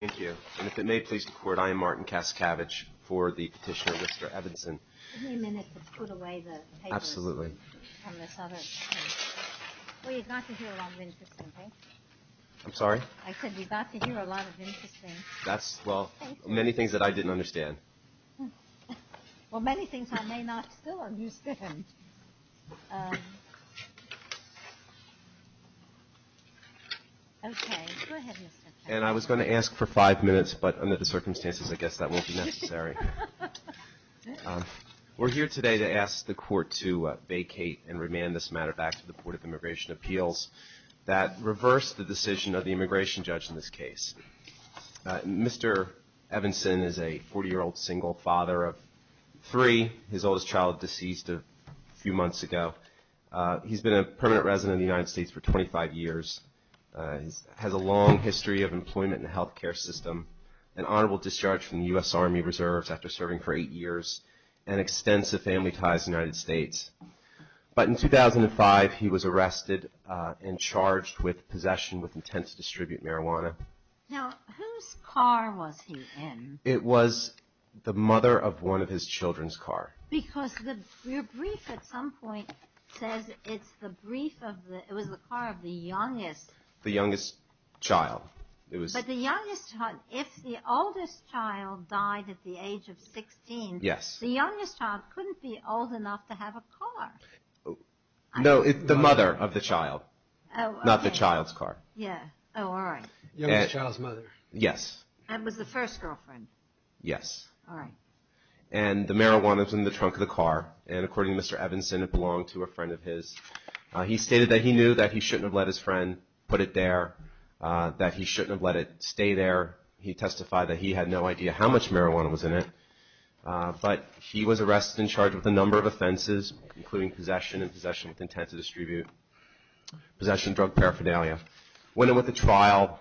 Thank you. And if it may please the court, I am Martin Kaskavich for the petitioner, Mr. Evanson. Give me a minute to put away the papers. Absolutely. Well, you got to hear a lot of interesting things. I'm sorry? I said you got to hear a lot of interesting things. That's, well, many things that I didn't understand. Well, many things I may not still understand. Okay. Go ahead, Mr. Kaskavich. And I was going to ask for five minutes, but under the circumstances, I guess that won't be necessary. We're here today to ask the court to vacate and remand this matter back to the Board of Immigration Appeals that reversed the decision of the immigration judge in this case. Mr. Evanson is a 40-year-old single father of three. His oldest child deceased a few months ago. He's been a permanent resident of the United States for 25 years. He has a long history of employment in the health care system, an honorable discharge from the U.S. Army Reserves after serving for eight years, and extensive family ties to the United States. But in 2005, he was arrested and charged with possession with intent to distribute marijuana. Now, whose car was he in? It was the mother of one of his children's car. Because your brief at some point says it's the brief of the – it was the car of the youngest. The youngest child. But the youngest child – if the oldest child died at the age of 16, the youngest child couldn't be old enough to have a car. No, the mother of the child, not the child's car. Yeah. Oh, all right. Youngest child's mother. Yes. And was the first girlfriend. Yes. All right. And the marijuana was in the trunk of the car. And according to Mr. Evanston, it belonged to a friend of his. He stated that he knew that he shouldn't have let his friend put it there, that he shouldn't have let it stay there. He testified that he had no idea how much marijuana was in it. But he was arrested and charged with a number of offenses, including possession and possession with intent to distribute, possession of drug paraphernalia. When he went to trial,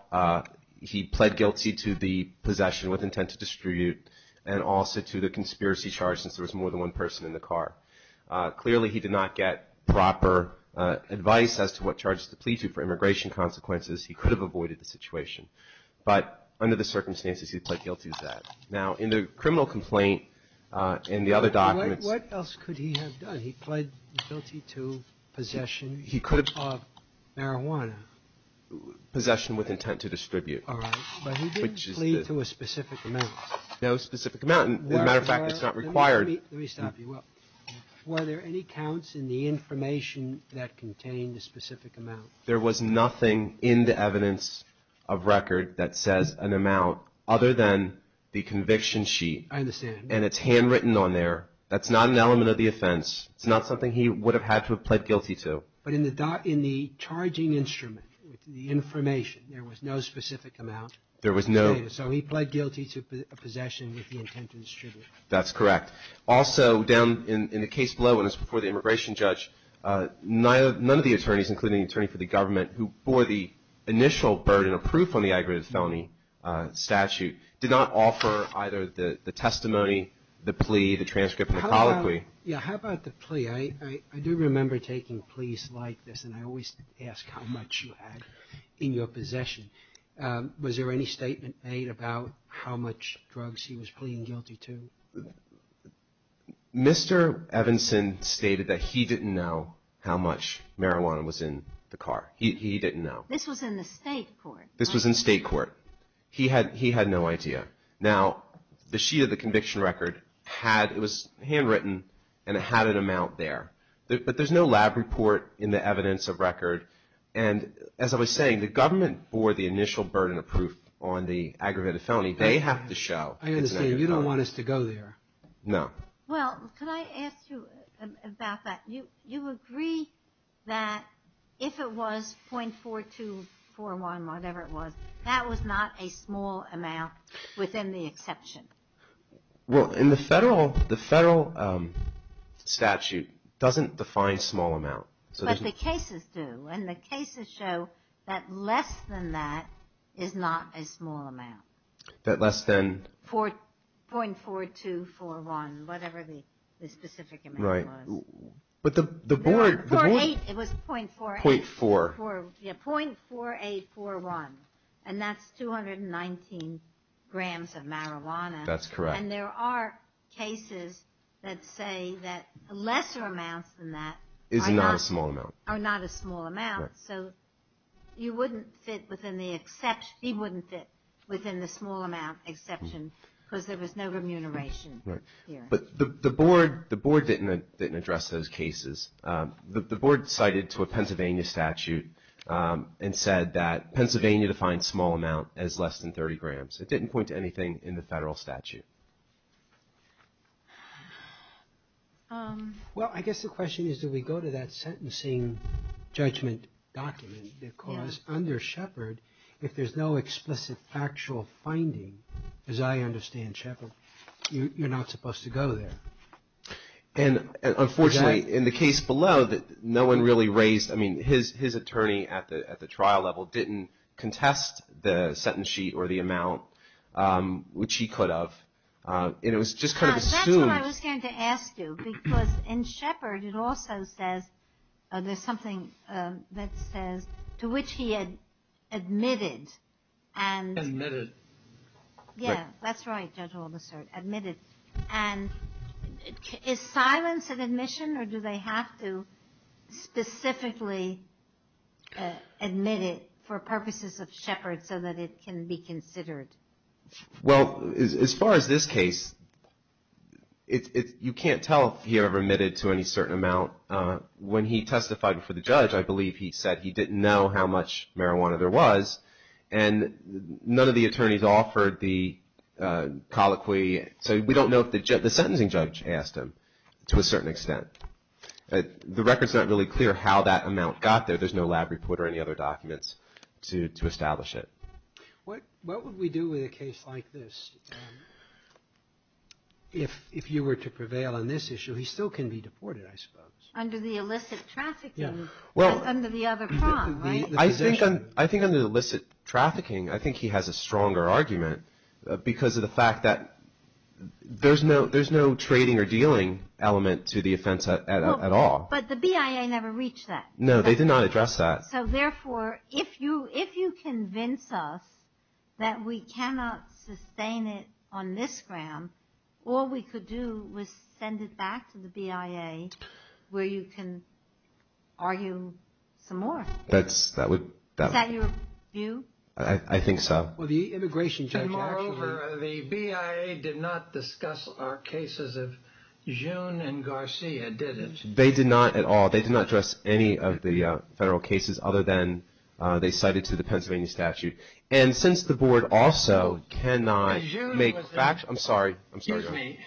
he pled guilty to the possession with intent to distribute and also to the conspiracy charge since there was more than one person in the car. Clearly, he did not get proper advice as to what charges to plead to for immigration consequences. He could have avoided the situation. But under the circumstances, he pled guilty to that. Now, in the criminal complaint, in the other documents – What else could he have done? He pled guilty to possession of marijuana. Possession with intent to distribute. All right. But he didn't plead to a specific amount. No specific amount. As a matter of fact, it's not required. Let me stop you. Were there any counts in the information that contained a specific amount? There was nothing in the evidence of record that says an amount other than the conviction sheet. I understand. And it's handwritten on there. That's not an element of the offense. It's not something he would have had to have pled guilty to. But in the charging instrument, the information, there was no specific amount. There was no – So he pled guilty to possession with the intent to distribute. That's correct. Also, down in the case below, when it's before the immigration judge, none of the attorneys, including the attorney for the government, who bore the initial burden of proof on the aggravated felony statute, did not offer either the testimony, the plea, the transcript, or the colloquy. Yeah, how about the plea? I do remember taking pleas like this, and I always ask how much you had in your possession. Was there any statement made about how much drugs he was pleading guilty to? Mr. Evanson stated that he didn't know how much marijuana was in the car. He didn't know. This was in the state court. This was in state court. He had no idea. Now, the sheet of the conviction record had – it was handwritten, and it had an amount there. But there's no lab report in the evidence of record. And as I was saying, the government bore the initial burden of proof on the aggravated felony. They have to show it's an aggravated felony. I understand. You don't want us to go there. No. Well, could I ask you about that? You agree that if it was .4241, whatever it was, that was not a small amount within the exception? Well, in the federal statute, it doesn't define small amount. But the cases do, and the cases show that less than that is not a small amount. That less than – .4241, whatever the specific amount was. But the board – .48. It was .48. .4. Yeah, .4841, and that's 219 grams of marijuana. That's correct. And there are cases that say that lesser amounts than that are not – Is not a small amount. Are not a small amount. Right. So you wouldn't fit within the – he wouldn't fit within the small amount exception because there was no remuneration here. But the board didn't address those cases. The board cited to a Pennsylvania statute and said that Pennsylvania defined small amount as less than 30 grams. It didn't point to anything in the federal statute. Well, I guess the question is, do we go to that sentencing judgment document? Because under Shepard, if there's no explicit factual finding, as I understand Shepard, you're not supposed to go there. And unfortunately, in the case below, no one really raised – I mean, his attorney at the trial level didn't contest the sentence sheet or the amount, which he could have. And it was just kind of assumed – That's what I was going to ask you. Because in Shepard, it also says – there's something that says, to which he had admitted. Admitted. Yeah. That's right. Judge Olmsted. Admitted. And is silence an admission, or do they have to specifically admit it for purposes of Shepard so that it can be considered? Well, as far as this case, you can't tell if he ever admitted to any certain amount. When he testified before the judge, I believe he said he didn't know how much marijuana there was. And none of the attorneys offered the colloquy. So we don't know if the – the sentencing judge asked him to a certain extent. The record's not really clear how that amount got there. There's no lab report or any other documents to establish it. What would we do with a case like this? If you were to prevail on this issue, he still can be deported, I suppose. Under the illicit trafficking. Yeah. Under the other prong, right? I think under the illicit trafficking, I think he has a stronger argument because of the fact that there's no trading or dealing element to the offense at all. But the BIA never reached that. No, they did not address that. So, therefore, if you convince us that we cannot sustain it on this gram, all we could do was send it back to the BIA where you can argue some more. Is that your view? I think so. Well, the immigration judge actually – And moreover, the BIA did not discuss our cases of June and Garcia, did it? They did not at all. They did not address any of the federal cases other than they cited to the Pennsylvania statute. And since the board also cannot make – I'm sorry. Excuse me.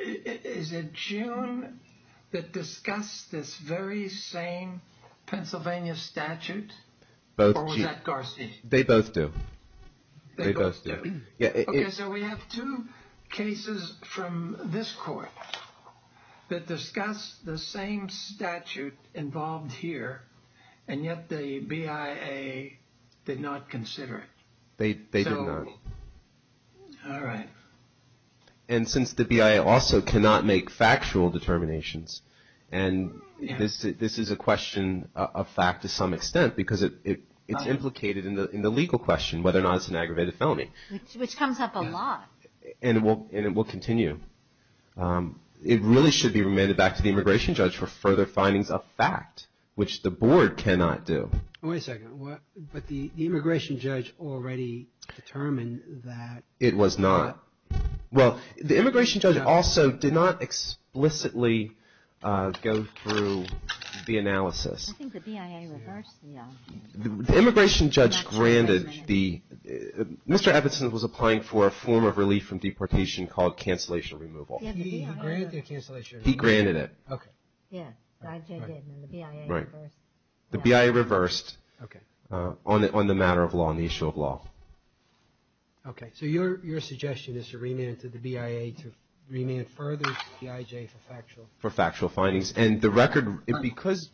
Is it June that discussed this very same Pennsylvania statute? Or was that Garcia? They both do. They both do. Okay, so we have two cases from this court that discuss the same statute involved here, and yet the BIA did not consider it. They did not. All right. And since the BIA also cannot make factual determinations, and this is a question of fact to some extent because it's implicated in the legal question whether or not it's an aggravated felony. Which comes up a lot. And it will continue. It really should be remanded back to the immigration judge for further findings of fact, which the board cannot do. Wait a second. But the immigration judge already determined that. It was not. Well, the immigration judge also did not explicitly go through the analysis. I think the BIA reversed the – The immigration judge granted the – Mr. Ebbetson was applying for a form of relief from deportation called cancellation removal. He granted the cancellation removal. He granted it. Okay. Yeah, the BIA reversed. Okay. On the matter of law, on the issue of law. Okay. So your suggestion is to remand it to the BIA to remand it further to the IJ for factual – For factual findings. And the record – because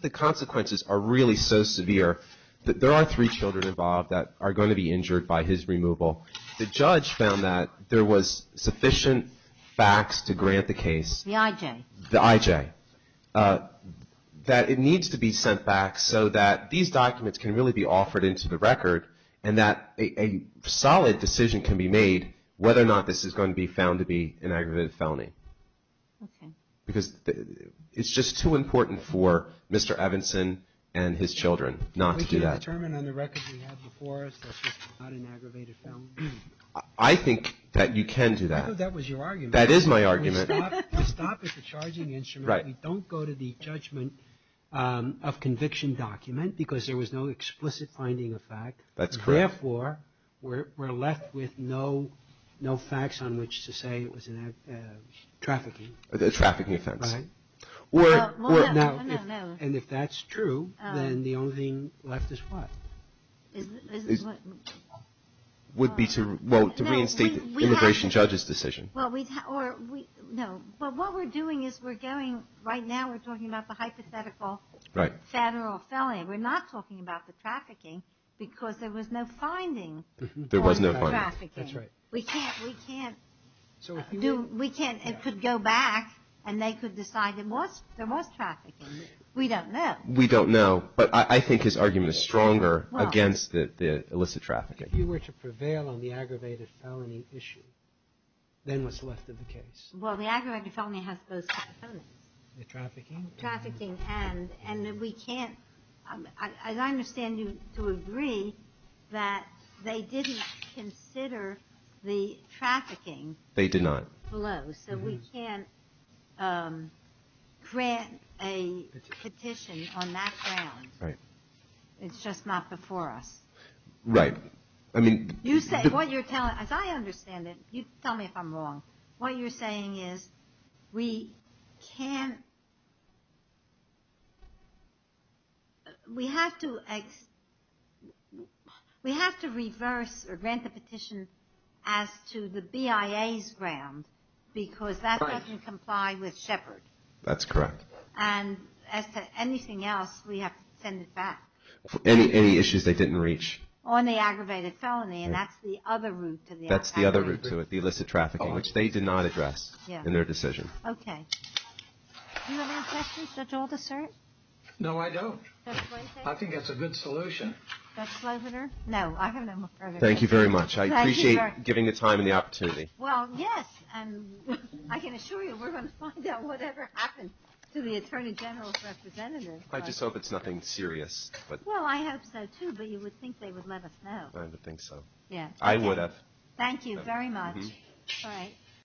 the consequences are really so severe, there are three children involved that are going to be injured by his removal. The judge found that there was sufficient facts to grant the case – The IJ. The IJ. That it needs to be sent back so that these documents can really be offered into the record and that a solid decision can be made whether or not this is going to be found to be an aggravated felony. Okay. Because it's just too important for Mr. Ebbetson and his children not to do that. We can't determine on the record we have before us that it's not an aggravated felony. I think that you can do that. I thought that was your argument. That is my argument. To stop at the charging instrument, we don't go to the judgment of conviction document because there was no explicit finding of fact. That's correct. Therefore, we're left with no facts on which to say it was a trafficking. A trafficking offense. Right. Or – No, no, no. And if that's true, then the only thing left is what? Is what? Would be to reinstate the immigration judge's decision. Well, we – or we – no. But what we're doing is we're going – right now we're talking about the hypothetical federal felony. We're not talking about the trafficking because there was no finding of trafficking. There was no finding. That's right. We can't – we can't do – we can't – it could go back and they could decide there was trafficking. We don't know. We don't know. But I think his argument is stronger against the illicit trafficking. If you were to prevail on the aggravated felony issue, then what's left of the case? Well, the aggravated felony has both components. The trafficking. Trafficking. And we can't – as I understand you to agree that they didn't consider the trafficking. They did not. Below. So we can't grant a petition on that ground. Right. It's just not before us. Right. I mean – You say – what you're telling – as I understand it – you tell me if I'm wrong. What you're saying is we can't – we have to – we have to reverse or grant the petition as to the BIA's ground because that doesn't comply with Shepard. That's correct. And as to anything else, we have to send it back. Any issues they didn't reach. On the aggravated felony. And that's the other route to the aggravated felony. That's the other route to it. The illicit trafficking. Which they did not address in their decision. Okay. Do you have any questions? Judge Aldisert? No, I don't. Judge Winter? I think that's a good solution. Judge Slobiner? No. I have no further questions. Thank you very much. Thank you very much. I appreciate giving the time and the opportunity. Well, yes. And I can assure you we're going to find out whatever happens to the Attorney General's representative. I just hope it's nothing serious. Well, I hope so, too, but you would think they would let us know. I would think so. Yes. I would have. Thank you very much. All right.